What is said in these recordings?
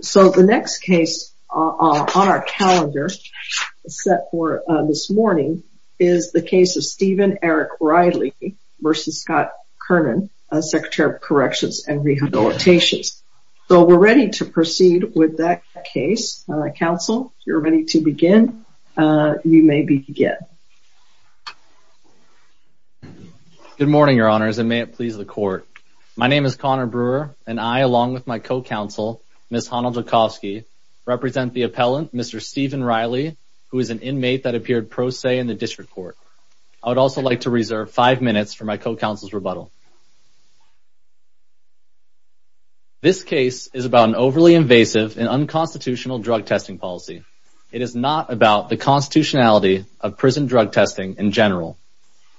So the next case on our calendar set for this morning is the case of Stephen Eric Riley v. Scott Kernan, Secretary of Corrections and Rehabilitations. So we're ready to proceed with that case. Counsel, you're ready to begin. You may begin. Good morning, Your Honors, and may it please the Court. My name is Connor Brewer and I, along with my co-counsel, Ms. Hanal Dzhokovsky, represent the appellant, Mr. Stephen Riley, who is an inmate that appeared pro se in the District Court. I would also like to reserve five minutes for my co-counsel's rebuttal. This case is about an overly invasive and unconstitutional drug testing policy. It is not about the constitutionality of prison drug testing in general.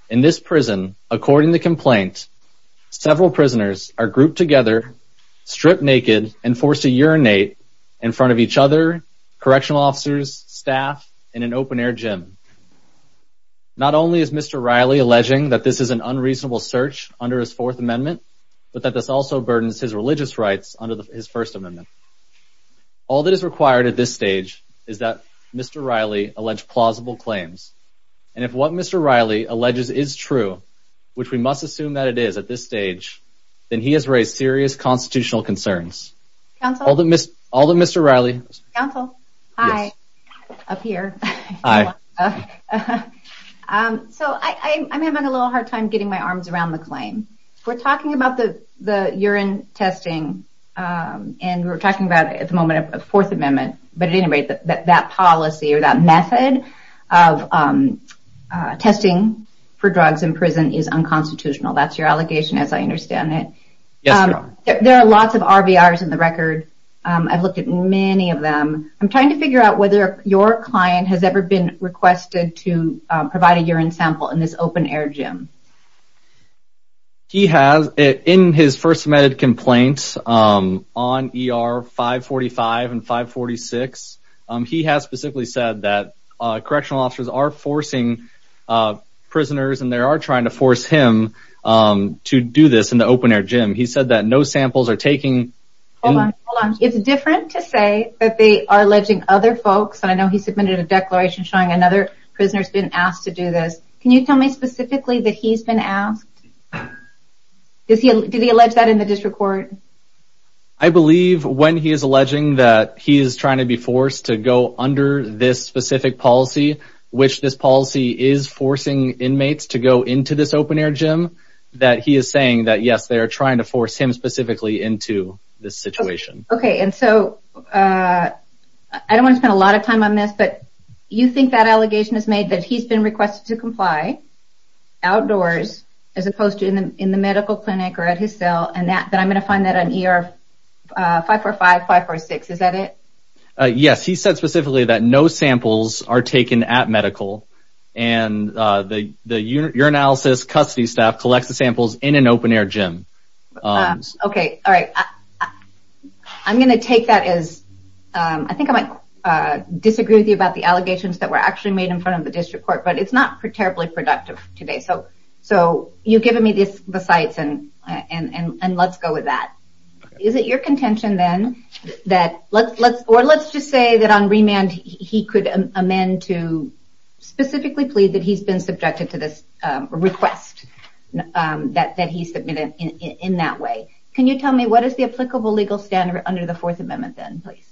In this prison, according to complaint, several prisoners are grouped together, stripped naked, and forced to urinate in front of each other, correctional officers, staff, and an open-air gym. Not only is Mr. Riley alleging that this is an unreasonable search under his Fourth Amendment, but that this also burdens his religious rights under his First Amendment. All that is required at this stage is that Mr. Riley allege plausible claims, and if what Mr. Riley alleges is true, which we must assume that it is at this stage, then he has raised serious constitutional concerns. All that Mr. Riley... Counsel? Hi, up here. So, I'm having a little hard time getting my arms around the claim. We're talking about the urine testing, and we're talking about at the moment a Fourth Amendment, but at any rate, that policy or that method of testing for drugs in prison is unconstitutional. That's your allegation, as I understand it. There are lots of RVRs in the record. I've looked at many of them. I'm trying to figure out whether your client has ever been requested to provide a urine sample in this open-air gym. He has. In his first submitted complaint on ER 545 and 546, he has specifically said that he can't do this in the open-air gym. He said that no samples are taken... Hold on, hold on. It's different to say that they are alleging other folks, and I know he submitted a declaration showing another prisoner has been asked to do this. Can you tell me specifically that he's been asked? Did he allege that in the district court? I believe when he is alleging that he is trying to be forced to go under this specific policy, which this policy is forcing inmates to go into this open-air gym, that he is saying that yes, they are trying to force him specifically into this situation. Okay. I don't want to spend a lot of time on this, but you think that allegation is made that he's been requested to comply outdoors as opposed to in the medical clinic or at his cell, and that I'm going to find that on ER 545, 546. Is that it? Yes. He said specifically that no samples are taken at medical, and the urinalysis custody staff collects the samples in an open-air gym. Okay. All right. I'm going to take that as... I think I might disagree with you about the allegations that were actually made in front of the district court, but it's not terribly productive today. So you've given me the sites, and let's go with that. Is it your contention then that... Or let's just say that on remand, he could amend to specifically plead that he's been subjected to this request that he submitted in that way. Can you tell me what is the applicable legal standard under the Fourth Amendment then, please?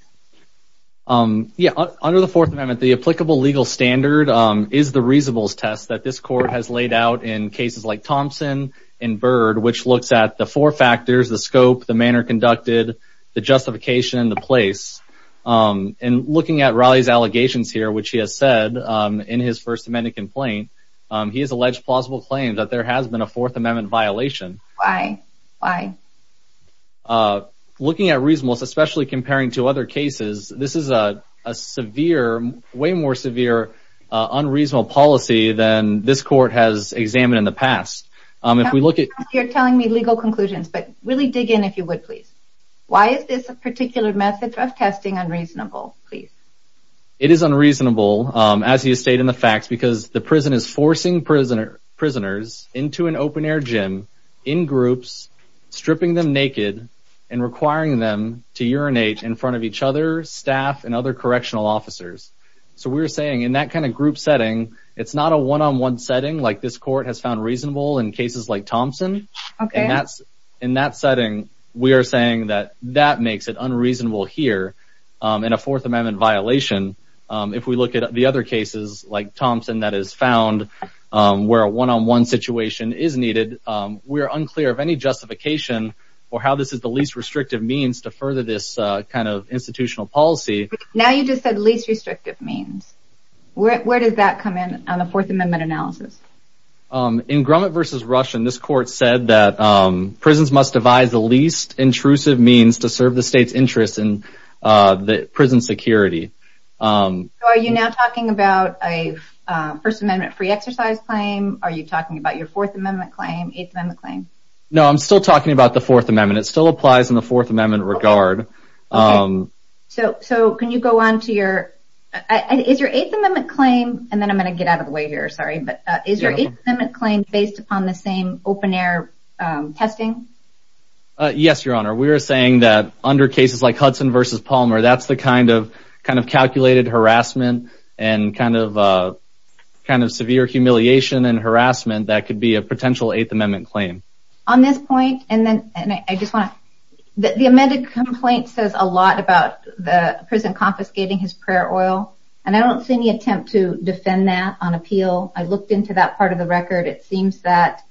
Yeah. Under the Fourth Amendment, the applicable legal standard is the reasonableness test that this court has laid out in cases like Thompson and Bird, which looks at the four factors, the scope, the manner conducted, the justification, and the place. And looking at Raleigh's allegations here, which he has said in his First Amendment complaint, he has alleged plausible claim that there has been a Fourth Amendment violation. Why? Why? Looking at reasonableness, especially comparing to other cases, this is a severe, way more severe, unreasonable policy than this court has examined in the past. If we look at... You're telling me legal conclusions, but really dig in if you would, please. Why is this particular method of testing unreasonable, please? It is unreasonable, as you state in the facts, because the prison is forcing prisoners into an open-air gym in groups, stripping them naked, and requiring them to urinate in front of each other, staff, and other correctional officers. So we're saying in that kind of group setting, it's not a one-on-one setting like this court has found reasonable in cases like Thompson. Okay. In that setting, we are saying that that makes it unreasonable here in a Fourth Amendment violation. If we look at the other cases, like Thompson, that is found where a one-on-one situation is needed, we are unclear of any justification for how this is the least restrictive means to further this kind of institutional policy. Now you just said least restrictive means. Where does that come in on a Fourth Amendment analysis? In Grumman versus Rushin, this court said that prisons must devise the least intrusive means to serve the state's interest in the prison security. Are you now talking about a First Amendment free exercise claim? Are you talking about your Fourth Amendment claim, Eighth Amendment claim? No, I'm still talking about the Fourth Amendment. It still applies in the Fourth Amendment regard. So can you go on to your... Is your Eighth Amendment claim, and then I'm going to get out open air testing? Yes, Your Honor. We are saying that under cases like Hudson versus Palmer, that's the kind of calculated harassment and kind of severe humiliation and harassment that could be a potential Eighth Amendment claim. On this point, and then I just want to... The amended complaint says a lot about the prison confiscating his prayer oil, and I don't see any attempt to defend that on appeal. I looked into that part of the record. It seems that,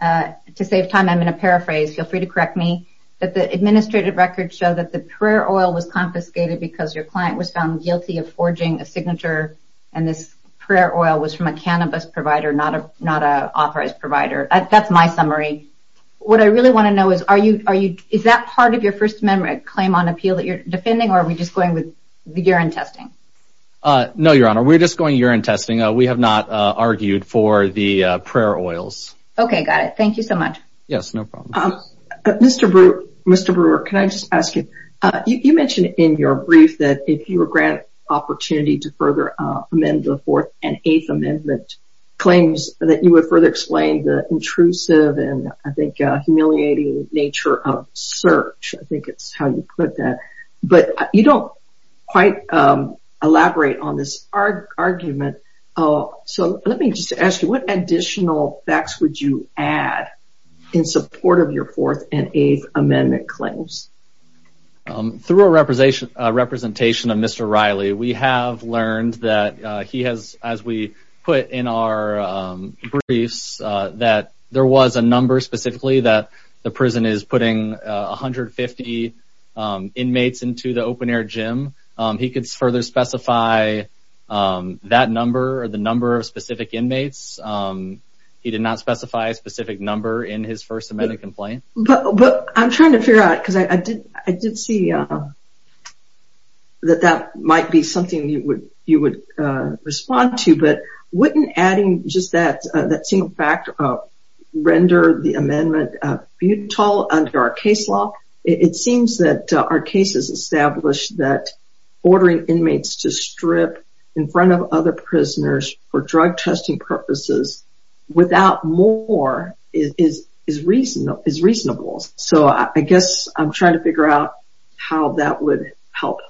to save time, I'm going to paraphrase. Feel free to correct me, that the administrative records show that the prayer oil was confiscated because your client was found guilty of forging a signature, and this prayer oil was from a cannabis provider, not an authorized provider. That's my summary. What I really want to know is, is that part of your First Amendment claim on appeal that you're defending, or are we just going with the urine testing? No, Your Honor. We're just going urine testing. We have not argued for the prayer oils. Okay, got it. Thank you so much. Yes, no problem. Mr. Brewer, can I just ask you, you mentioned in your brief that if you were granted opportunity to further amend the Fourth and Eighth Amendment claims that you would further explain the intrusive and, I think, humiliating nature of search. I think it's how you put that, but you don't quite elaborate on this argument. Let me just ask you, what additional facts would you add in support of your Fourth and Eighth Amendment claims? Through a representation of Mr. Riley, we have learned that he has, as we put in our briefs, that there was a number specifically that the prison is putting 150 inmates into the open-air gym. He could further specify that number or the number of specific inmates. He did not specify a specific number in his First Amendment complaint. But I'm trying to figure out, because I did see that that might be something you would respond to, but wouldn't adding just that single factor render the futile under our case law? It seems that our case has established that ordering inmates to strip in front of other prisoners for drug testing purposes without more is reasonable. So I guess I'm trying to figure out how that would help.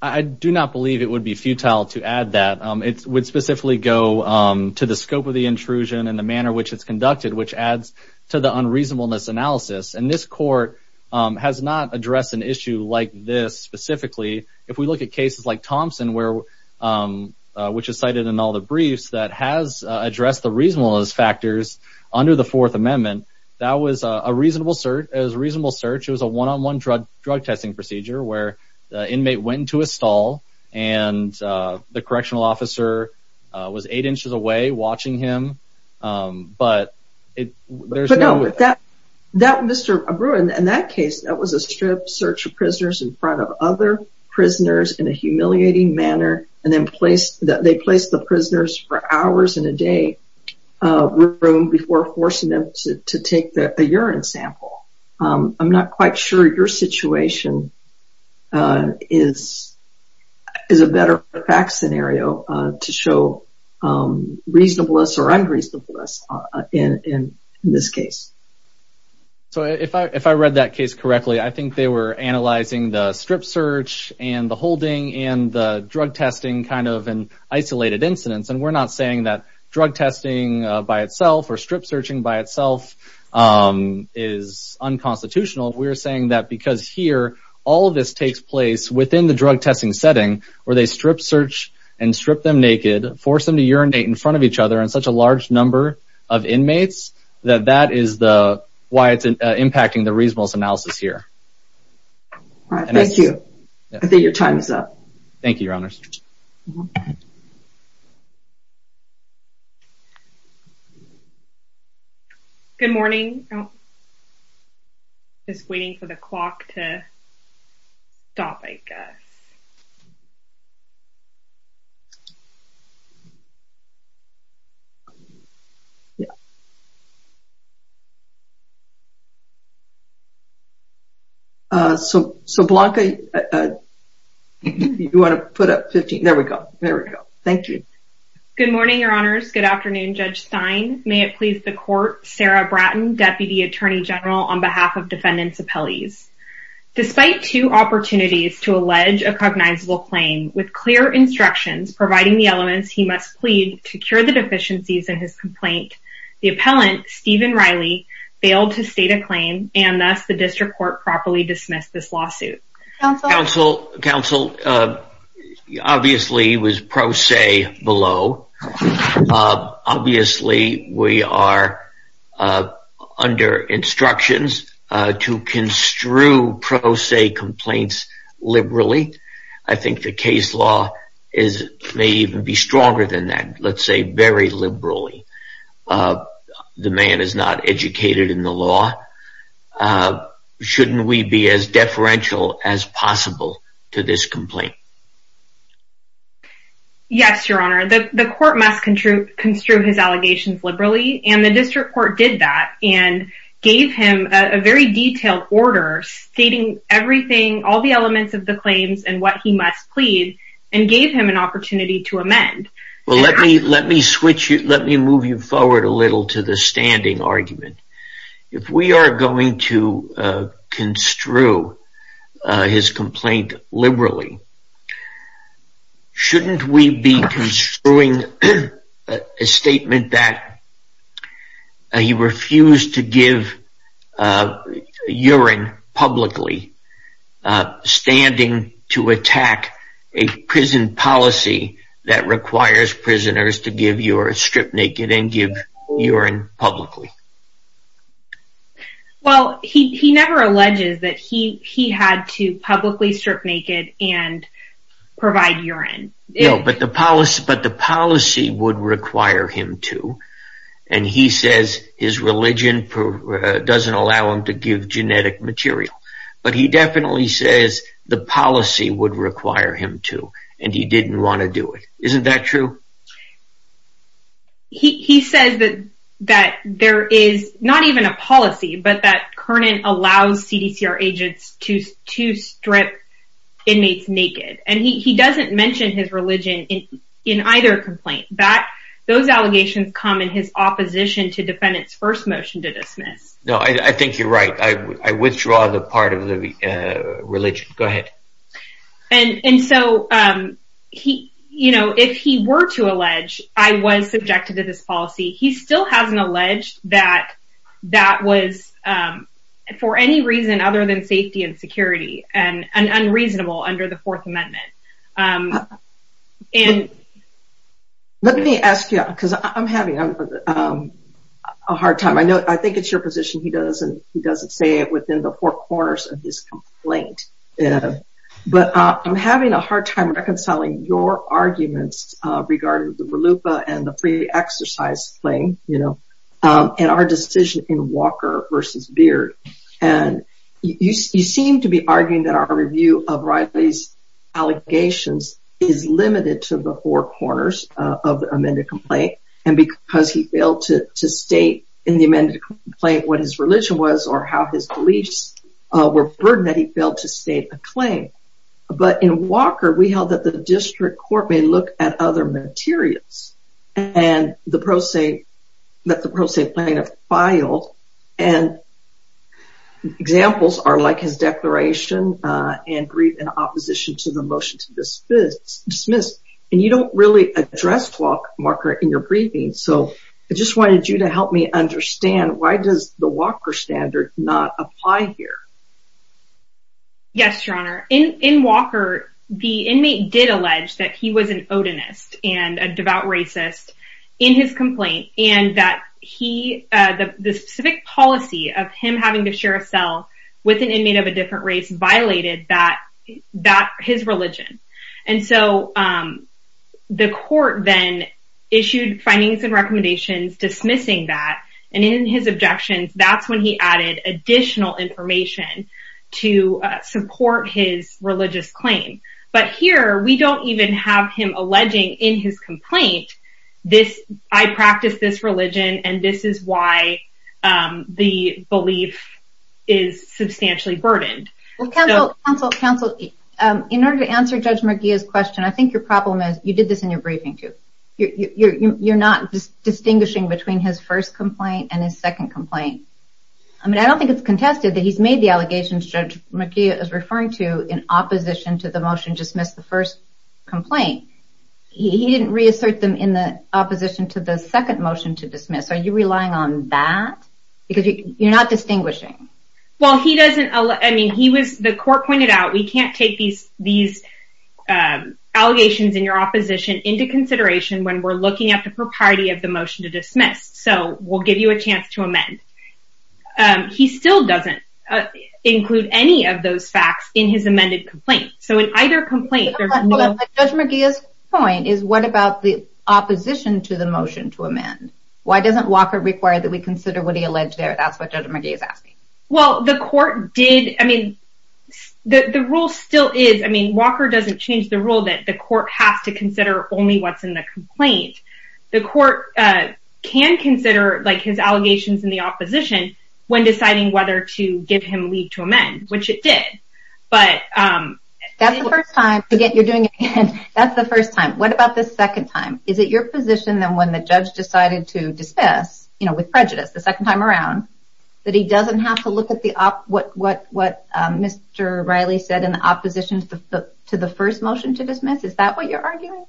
I do not believe it would be futile to add that. It would specifically go to the scope of the intrusion and the manner in which it's conducted, which adds to the unreasonableness analysis. And this court has not addressed an issue like this specifically. If we look at cases like Thompson, which is cited in all the briefs, that has addressed the reasonableness factors under the Fourth Amendment, that was a reasonable search. It was a one-on-one drug testing procedure where the inmate went into a stall and the correctional officer was eight inches away watching him. But there's no... But no, Mr. Abreu, in that case, that was a strip search of prisoners in front of other prisoners in a humiliating manner, and then they placed the prisoners for hours in a day room before forcing them to take a urine sample. I'm not quite sure your situation is a better fact scenario to show reasonableness or unreasonableness in this case. So if I read that case correctly, I think they were analyzing the strip search and the holding and the drug testing kind of in isolated incidents. And we're not saying that drug testing by itself or strip searching by itself is unconstitutional. We're saying that because here, all of this takes place within the drug testing setting where they strip search and strip them naked, force them to urinate in front of each other and such a large number of inmates, that that is why it's impacting the reasonableness analysis here. All right. Thank you. I think your time is up. Thank you, Your Honors. Good morning. I'm just waiting for the clock to stop, I guess. So, Blanca, you want to put up 15? There we go. There we go. Thank you. Good morning, Your Honors. Good afternoon, Judge Stein. May it please the court, Sarah Bratton, Deputy Attorney General on behalf of defendants' appellees. Despite two opportunities to allege a cognizable claim with clear instructions providing the elements he must plead to cure the deficiencies in his complaint, the appellant, Steven Riley, failed to state a claim and thus the district court properly dismissed this lawsuit. Counsel, obviously it was pro se below. Obviously, we are under instructions to construe pro se complaints liberally. I think the case law may even be stronger than that, let's say very liberally. The man is not educated in the law. So, shouldn't we be as deferential as possible to this complaint? Yes, Your Honor. The court must construe his allegations liberally and the district court did that and gave him a very detailed order stating everything, all the elements of the claims and what he must plead and gave him an opportunity to amend. Well, let me move you forward a little to the standing argument. If we are going to construe his complaint liberally, shouldn't we be construing a statement that he refused to give urine publicly standing to attack a prison policy that requires prisoners to give urine, strip naked and give urine publicly? Well, he never alleges that he had to publicly strip naked and provide urine. No, but the policy would require him to and he says his religion doesn't allow him to give genetic material, but he definitely says the policy would require him to and he didn't want to do it. Isn't that true? He says that there is not even a policy, but that Kernan allows CDCR agents to strip inmates naked and he doesn't mention his religion in either complaint. Those allegations come in his opposition to defendant's first motion to dismiss. No, I think you're right. I withdraw the part of the religion. Go ahead. If he were to allege I was subjected to this policy, he still hasn't alleged that that was for any reason other than safety and security and unreasonable under the Fourth Amendment. Let me ask you because I'm having a hard time. I think it's your position he does and he doesn't say it within the four corners of his complaint, but I'm having a hard time reconciling your arguments regarding the RLUPA and the free exercise claim and our decision in Walker versus Beard. You seem to be arguing that our review of Riley's allegations is limited to the four corners of the amended complaint and because he failed to state in the amended complaint what his religion was or how his beliefs were burdened that he failed to state a claim, but in Walker we held that the district court may look at other materials and that the pro se plaintiff filed and examples are like his declaration and brief in opposition to the motion to dismiss and you don't really address Walker in your briefing, so I just wanted you to help me understand why does the Walker standard not apply here? Yes, your honor. In Walker, the inmate did allege that he was an odinist and a devout racist in his complaint and that the specific policy of him having to share a cell with an inmate of a different race violated his religion and so the court then issued findings and recommendations dismissing that and in his objections that's when he added additional information to support his religious claim, but here we don't even have him alleging in his complaint this I practice this religion and this is why the belief is substantially burdened. Counsel, in order to answer Judge McGeeh's question, I think your problem is you did this in your briefing too. You're not distinguishing between his first complaint and his second complaint. I mean I don't think it's contested that he's made the allegations Judge McGeeh is referring to in opposition to the motion to dismiss the first complaint. He didn't reassert them in the opposition to the second motion to dismiss. Are you relying on that? Because you're not distinguishing. Well he doesn't I mean he was the court pointed out we can't take these these allegations in your opposition into consideration when we're looking at the propriety of the motion to dismiss so we'll give you a chance to amend. He still doesn't include any of those facts in his amended complaint so in either complaint Judge McGeeh's point is what about the opposition to the motion to amend? Why doesn't Walker require that we consider what he alleged there? That's what Judge McGeeh is asking. Well the court did I mean the the rule still is I mean Walker doesn't change the rule that the court has to consider only what's in the complaint. The court can consider like his allegations in the opposition when deciding whether to give him leave to amend which it did but um that's the first time to get that's the first time. What about this second time? Is it your position then when the judge decided to dismiss you know with prejudice the second time around that he doesn't have to look at what Mr. Riley said in the opposition to the first motion to dismiss? Is that what you're arguing?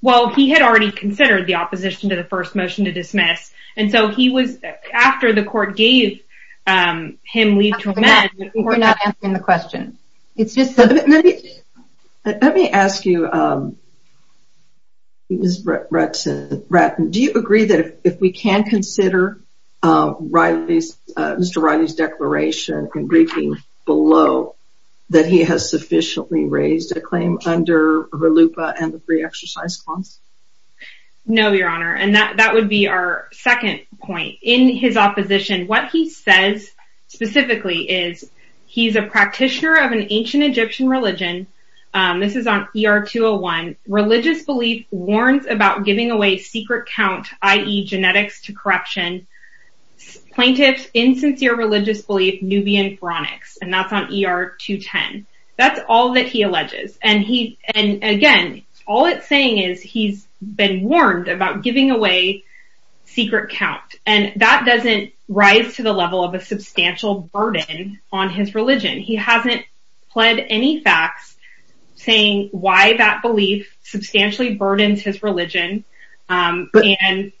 Well he had already considered the opposition to the first motion to dismiss and so he was after the court gave him leave to amend. We're not answering the question. Let me ask you um Ms. Ratten do you agree that if we can consider uh Riley's uh Mr. Riley's declaration and briefing below that he has sufficiently raised a claim under RLUIPA and the free exercise clause? No your honor and that that would be our second point. In his opposition what he says specifically is he's a practitioner of an ancient Egyptian religion um this is on ER 201 religious belief warns about giving away secret count i.e. genetics to corruption plaintiffs insincere religious belief Nubian pharaonics and that's on ER 210. That's all that he alleges and he and again all it's saying is he's been warned about giving away secret count and that doesn't rise to the level of a substantial burden on his religion. He hasn't pled any facts saying why that belief substantially burdens his religion um and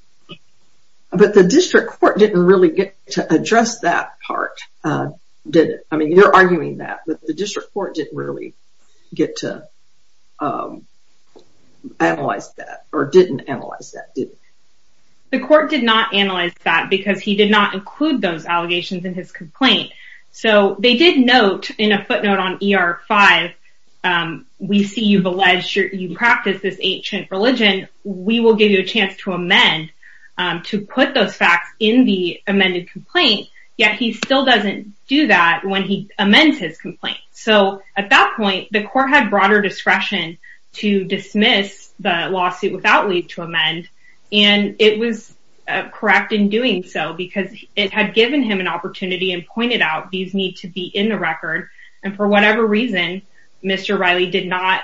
but the district court didn't really get to address that part uh did it? I mean you're arguing that but the district court didn't really get to um analyze that or didn't analyze that did the court did not analyze that because he did not include those allegations in his complaint so they did note in a footnote on ER 5 um we see you've alleged you practice this ancient religion we will give you a chance to amend um to put those facts in the amended complaint yet he still doesn't do that when he amends his complaint so at that point the court had broader discretion to dismiss the lawsuit without leave to amend and it was correct in doing so because it had given him an opportunity and pointed out these need to be in the record and for whatever reason Mr. Riley did not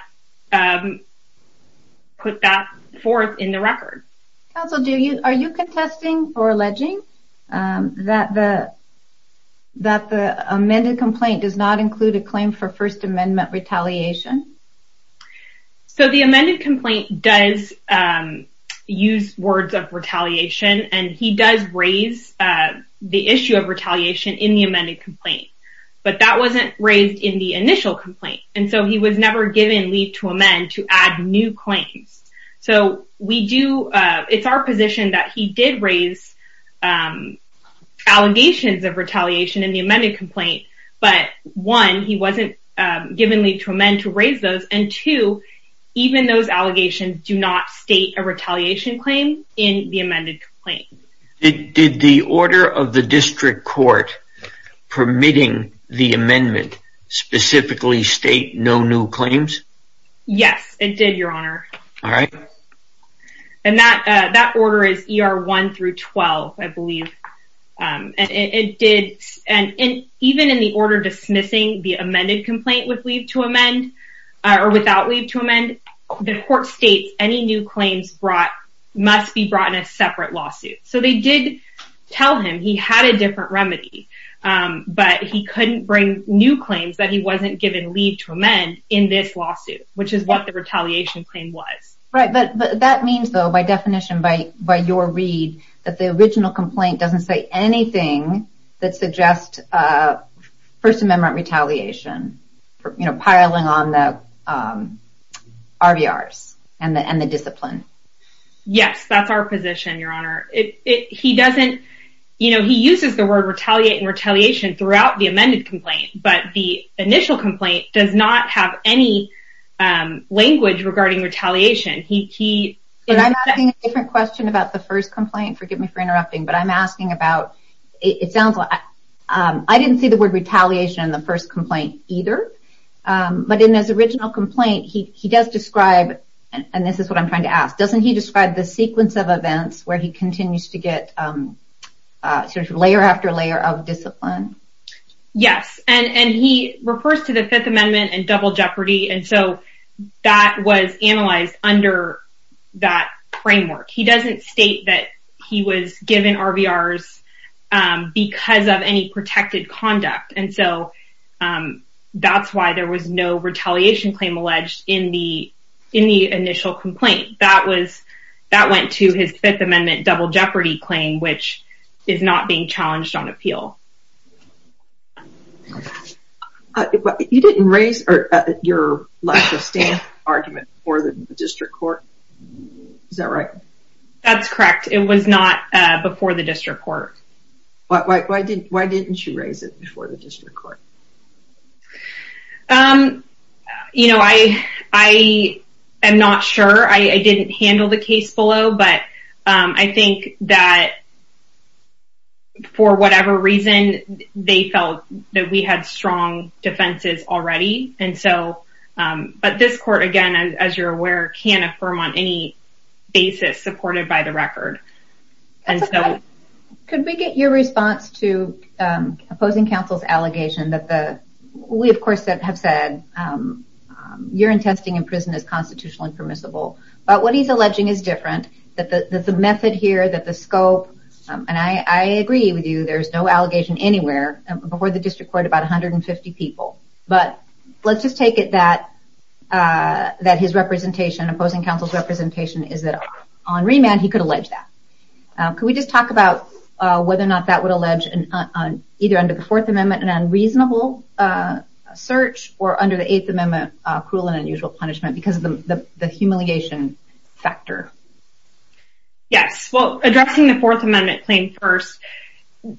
um put that forth in the record. Counsel do you are you contesting or alleging um that the that the amended complaint does not include a claim for first amendment retaliation? So the amended complaint does um use words of retaliation and he does raise uh the issue of retaliation in the amended complaint but that wasn't raised in the initial complaint and so he was never given leave to amend to add new claims so we do uh it's our position that he did raise um allegations of retaliation in the amended complaint but one he wasn't um given leave to amend to raise those and two even those allegations do not state a retaliation claim in the amended complaint. Did the order of the district court permitting the amendment specifically state no new claims? Yes it did your honor. All right. And that uh that order is er 1 through 12 I believe um and it did and in even in the order dismissing the amended complaint with leave to amend or without leave to amend the court states any new claims brought must be brought in a separate lawsuit so they did tell him he had a different remedy um but he couldn't bring new claims that he wasn't given leave to amend in this lawsuit which is what the retaliation claim was. Right but that means though by definition by by your read that the original complaint doesn't say anything that suggests uh first amendment retaliation you know piling on the um RBRs and the and the discipline. Yes that's our position your honor it it he doesn't you know he uses the word retaliate and retaliation throughout the amended complaint but the initial complaint does not have any um language regarding retaliation he he. But I'm asking a different question about the first complaint forgive me for interrupting but I'm asking about it sounds like um I didn't see the word retaliation in the first complaint either um but in his original complaint he he does describe and this is what I'm trying to ask doesn't he describe the sequence of events where he continues to get um uh sort of layer after layer of discipline? Yes and and he refers to the fifth amendment and double jeopardy and so that was analyzed under that framework he doesn't state that he was given RBRs um because of any protected conduct and so um that's why there was no retaliation claim alleged in the in the initial complaint that was that went to his fifth amendment double jeopardy claim which is not being challenged on appeal. You didn't raise or your argument for the district court is that right? That's correct it was not uh before the district court. Why why why didn't why didn't you raise it before the district court? Um you know I I am not sure I I didn't handle the case below but um I think that for whatever reason they felt that we had strong defenses already and so um but this court again as you're aware can't affirm on any basis supported by the record and so. Could we get your response to um opposing counsel's allegation that the we of course have said um you're in testing in prison is constitutionally permissible but what he's alleging is different that the the method here that the scope um and I I agree with you there's no allegation anywhere before the district court about 150 people but let's just take it that uh that his representation opposing counsel's representation is that on remand he could allege that. Could we just talk about uh whether or not that would allege an either under the fourth amendment an unreasonable uh search or under the eighth amendment uh cruel and unusual punishment because of the the humiliation factor? Yes well addressing the fourth amendment claim first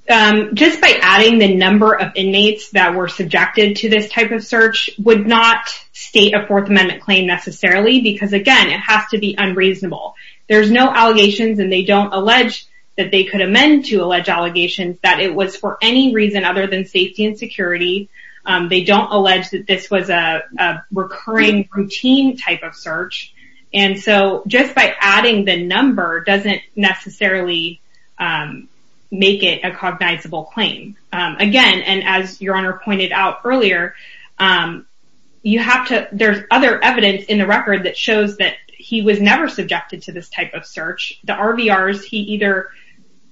um just by adding the number of inmates that were subjected to this type of search would not state a fourth amendment claim necessarily because again it has to be unreasonable. There's no allegations and they don't allege that they could amend to allege allegations that it was for any reason other than safety and security um they don't allege that this was a recurring routine type of search and so just by adding the number doesn't necessarily um make it a cognizable claim um again and as your honor pointed out earlier um you have to there's other evidence in the record that shows that he was never subjected to this type of search. The RVRs he either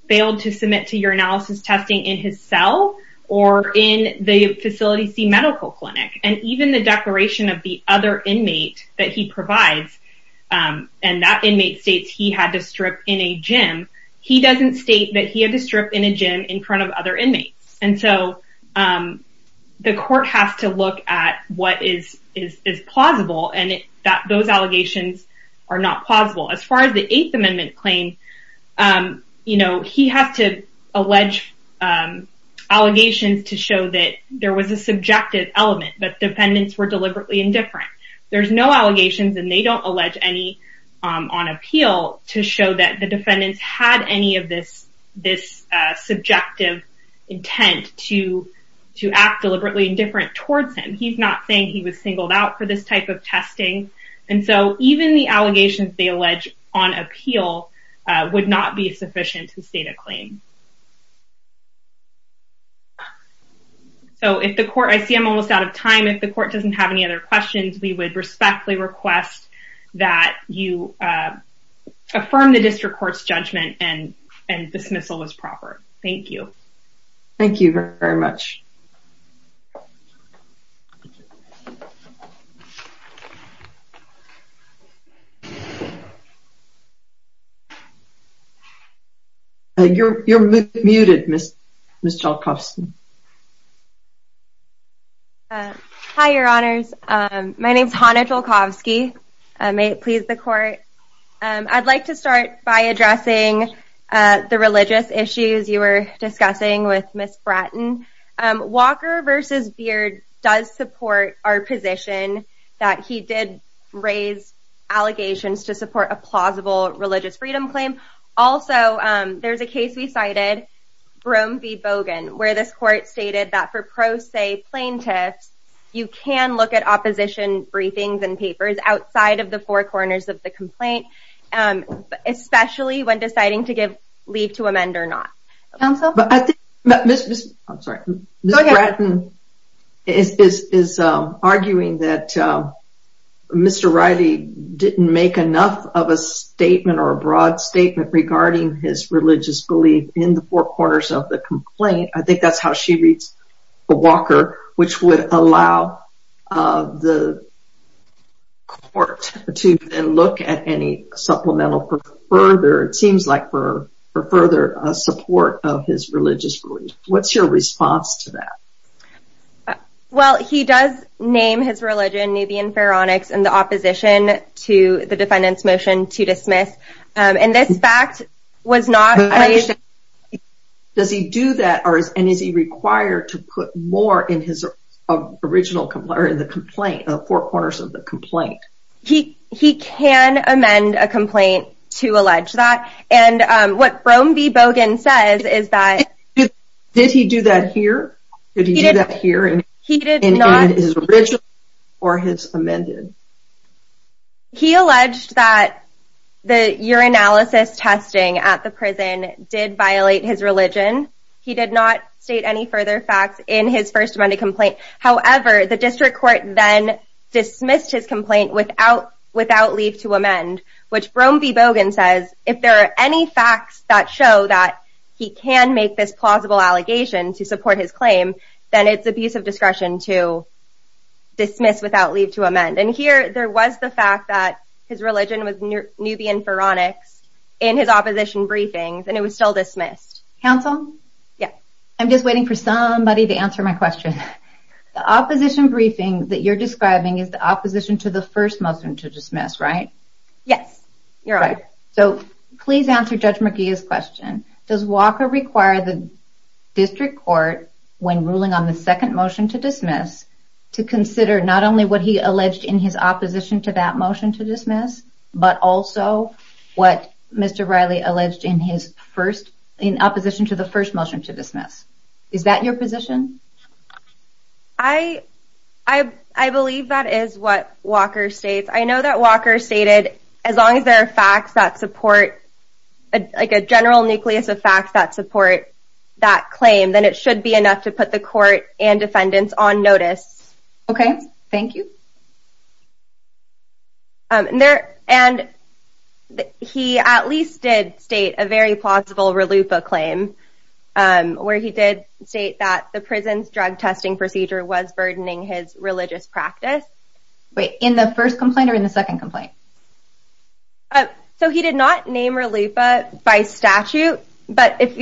failed to submit to urinalysis testing in his cell or in the facility C medical clinic and even the declaration of the other inmate that he provides and that inmate states he had to strip in a gym he doesn't state that he had to strip in a gym in front of other inmates and so um the court has to look at what is is plausible and that those allegations are not plausible. As far as the eighth amendment claim um you know he has to allegations to show that there was a subjective element that defendants were deliberately indifferent. There's no allegations and they don't allege any um on appeal to show that the defendants had any of this this uh subjective intent to to act deliberately indifferent towards him. He's not saying he was singled out for this type of testing and so even the allegations they allege on appeal would not be sufficient to state a claim. So if the court I see I'm almost out of time if the court doesn't have any other questions we would respectfully request that you affirm the district court's judgment and and dismissal as proper. Thank you. Thank you very much. You're you're muted Miss Jolkowski. Hi your honors um my name is Hannah Jolkowski. May it please the court um I'd like to start by addressing uh the religious issues you were discussing with Miss Bratton. Um Walker versus Beard does support our position that he did raise allegations to support a plausible religious freedom claim. Also um there's a case we cited Broom v. Bogan where this court stated that for pro se plaintiffs you can look at opposition briefings and papers outside of the four when deciding to give leave to amend or not. Counsel? But I think Miss I'm sorry Miss Bratton is is um arguing that um Mr. Riley didn't make enough of a statement or a broad statement regarding his religious belief in the four corners of the complaint. I think that's how she reads Walker which would allow uh the court to look at any supplemental for further it seems like for for further support of his religious belief. What's your response to that? Well he does name his religion Nubian Pharaonics in the opposition to the defendant's motion to dismiss um and this fact was not raised. Does he do that or is and is he required to put more in his original complaint or in the complaint the four corners of the complaint? He he can amend a complaint to allege that and um what Broom v. Bogan says is that. Did he do that here? Did he do that here in his original or his amended? He alleged that the urinalysis testing at the prison did violate his religion. He did not state any further facts in his first Monday complaint. However the district court then dismissed his complaint without without leave to amend which Broom v. Bogan says if there are any facts that show that he can make this plausible allegation to support his claim then it's abuse of discretion to dismiss without leave to amend and here there was the fact that his religion was Nubian Pharaonics in his opposition briefings and it was still dismissed. Counsel? Yeah. I'm just waiting for somebody to answer my question. The opposition briefing that you're describing is the opposition to the first motion to dismiss right? Yes your honor. So please answer Judge to dismiss to consider not only what he alleged in his opposition to that motion to dismiss but also what Mr. Riley alleged in his first in opposition to the first motion to dismiss. Is that your position? I believe that is what Walker states. I know that Walker stated as long as there are facts that support like a general nucleus of facts that support that claim then it on notice. Okay thank you. And there and he at least did state a very plausible RLUIPA claim where he did state that the prison's drug testing procedure was burdening his religious practice. Wait in the first complaint or in the second complaint? So he did not name RLUIPA by statute but if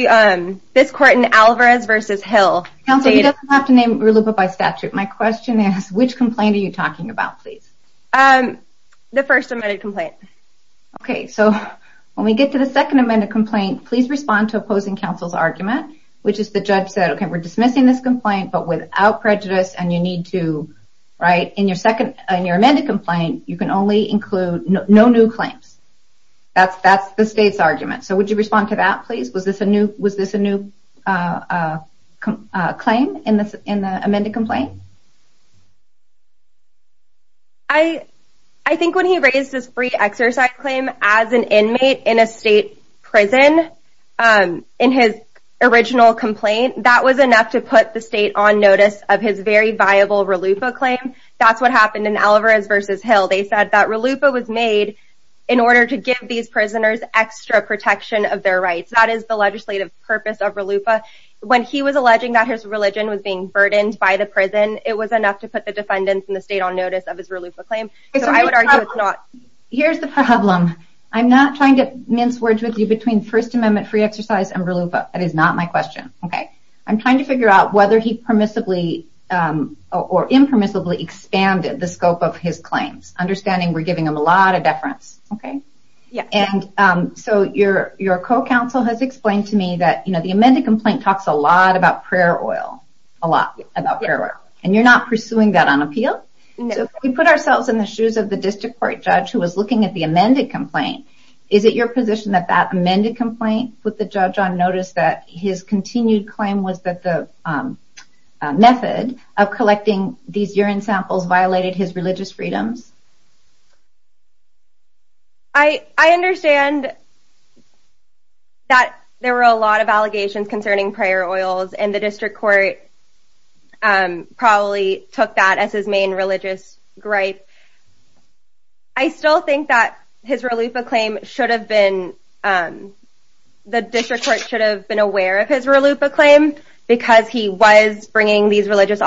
this court in Alvarez versus Hill. Counsel you don't have to name RLUIPA by statute. My question is which complaint are you talking about please? The first amended complaint. Okay so when we get to the second amended complaint please respond to opposing counsel's argument which is the judge said okay we're dismissing this complaint but without prejudice and you need to right in your second and your amended complaint you can only include no new claims. That's the state's argument. So claim in this in the amended complaint? I think when he raised this free exercise claim as an inmate in a state prison in his original complaint that was enough to put the state on notice of his very viable RLUIPA claim. That's what happened in Alvarez versus Hill. They said that RLUIPA was made in order to give these his religion was being burdened by the prison it was enough to put the defendants in the state on notice of his RLUIPA claim. Here's the problem I'm not trying to mince words with you between first amendment free exercise and RLUIPA. That is not my question. Okay I'm trying to figure out whether he permissibly or impermissibly expanded the scope of his claims. Understanding we're giving him a lot of deference. Okay yeah and so your your co-counsel has explained to me that the amended complaint talks a lot about prayer oil a lot about prayer oil and you're not pursuing that on appeal. So if we put ourselves in the shoes of the district court judge who was looking at the amended complaint is it your position that that amended complaint with the judge on notice that his continued claim was that the method of collecting these urine samples violated his prayer oils and the district court probably took that as his main religious gripe. I still think that his RLUIPA claim should have been the district court should have been aware of his RLUIPA claim because he was bringing these religious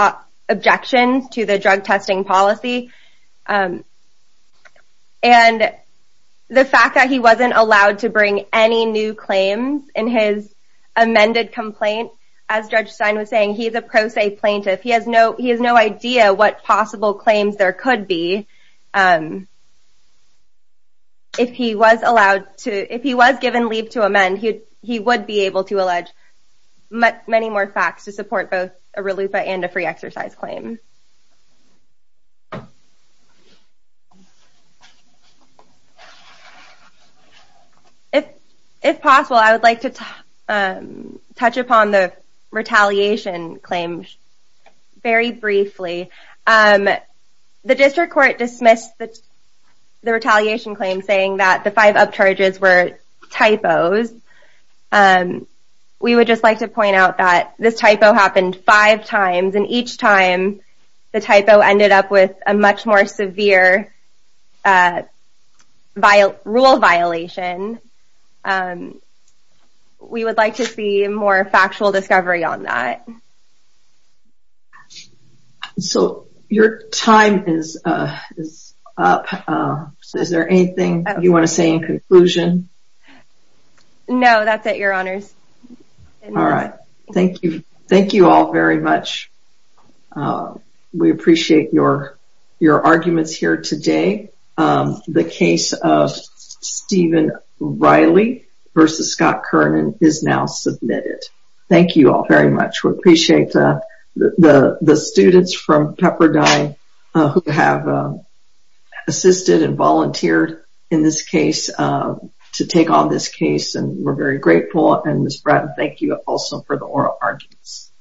objections to the drug testing policy and the fact that he wasn't allowed to bring any new claims in his amended complaint as Judge Stein was saying he's a pro se plaintiff he has no he has no idea what possible claims there could be if he was allowed to if he was given leave to amend he he would be able to allege many more facts to support both a RLUIPA and a free exercise claim. If if possible I would like to touch upon the retaliation claim very briefly. The district court dismissed the the retaliation claim saying that the five up charges were typos. We would just like to point out that this typo happened five times and each time the typo ended up with a much more severe rule violation. We would like to see more factual discovery on that. So your time is up so is there anything you want to say in conclusion? No that's it your honors. All right thank you thank you all very much. We appreciate your your arguments here today. The case of Stephen Riley versus Scott Kernan is now submitted. Thank you all very much. We appreciate the the the students from Pepperdine who have assisted and volunteered in this case to take on this case and we're very grateful and Miss Bratton thank you also for the oral arguments. you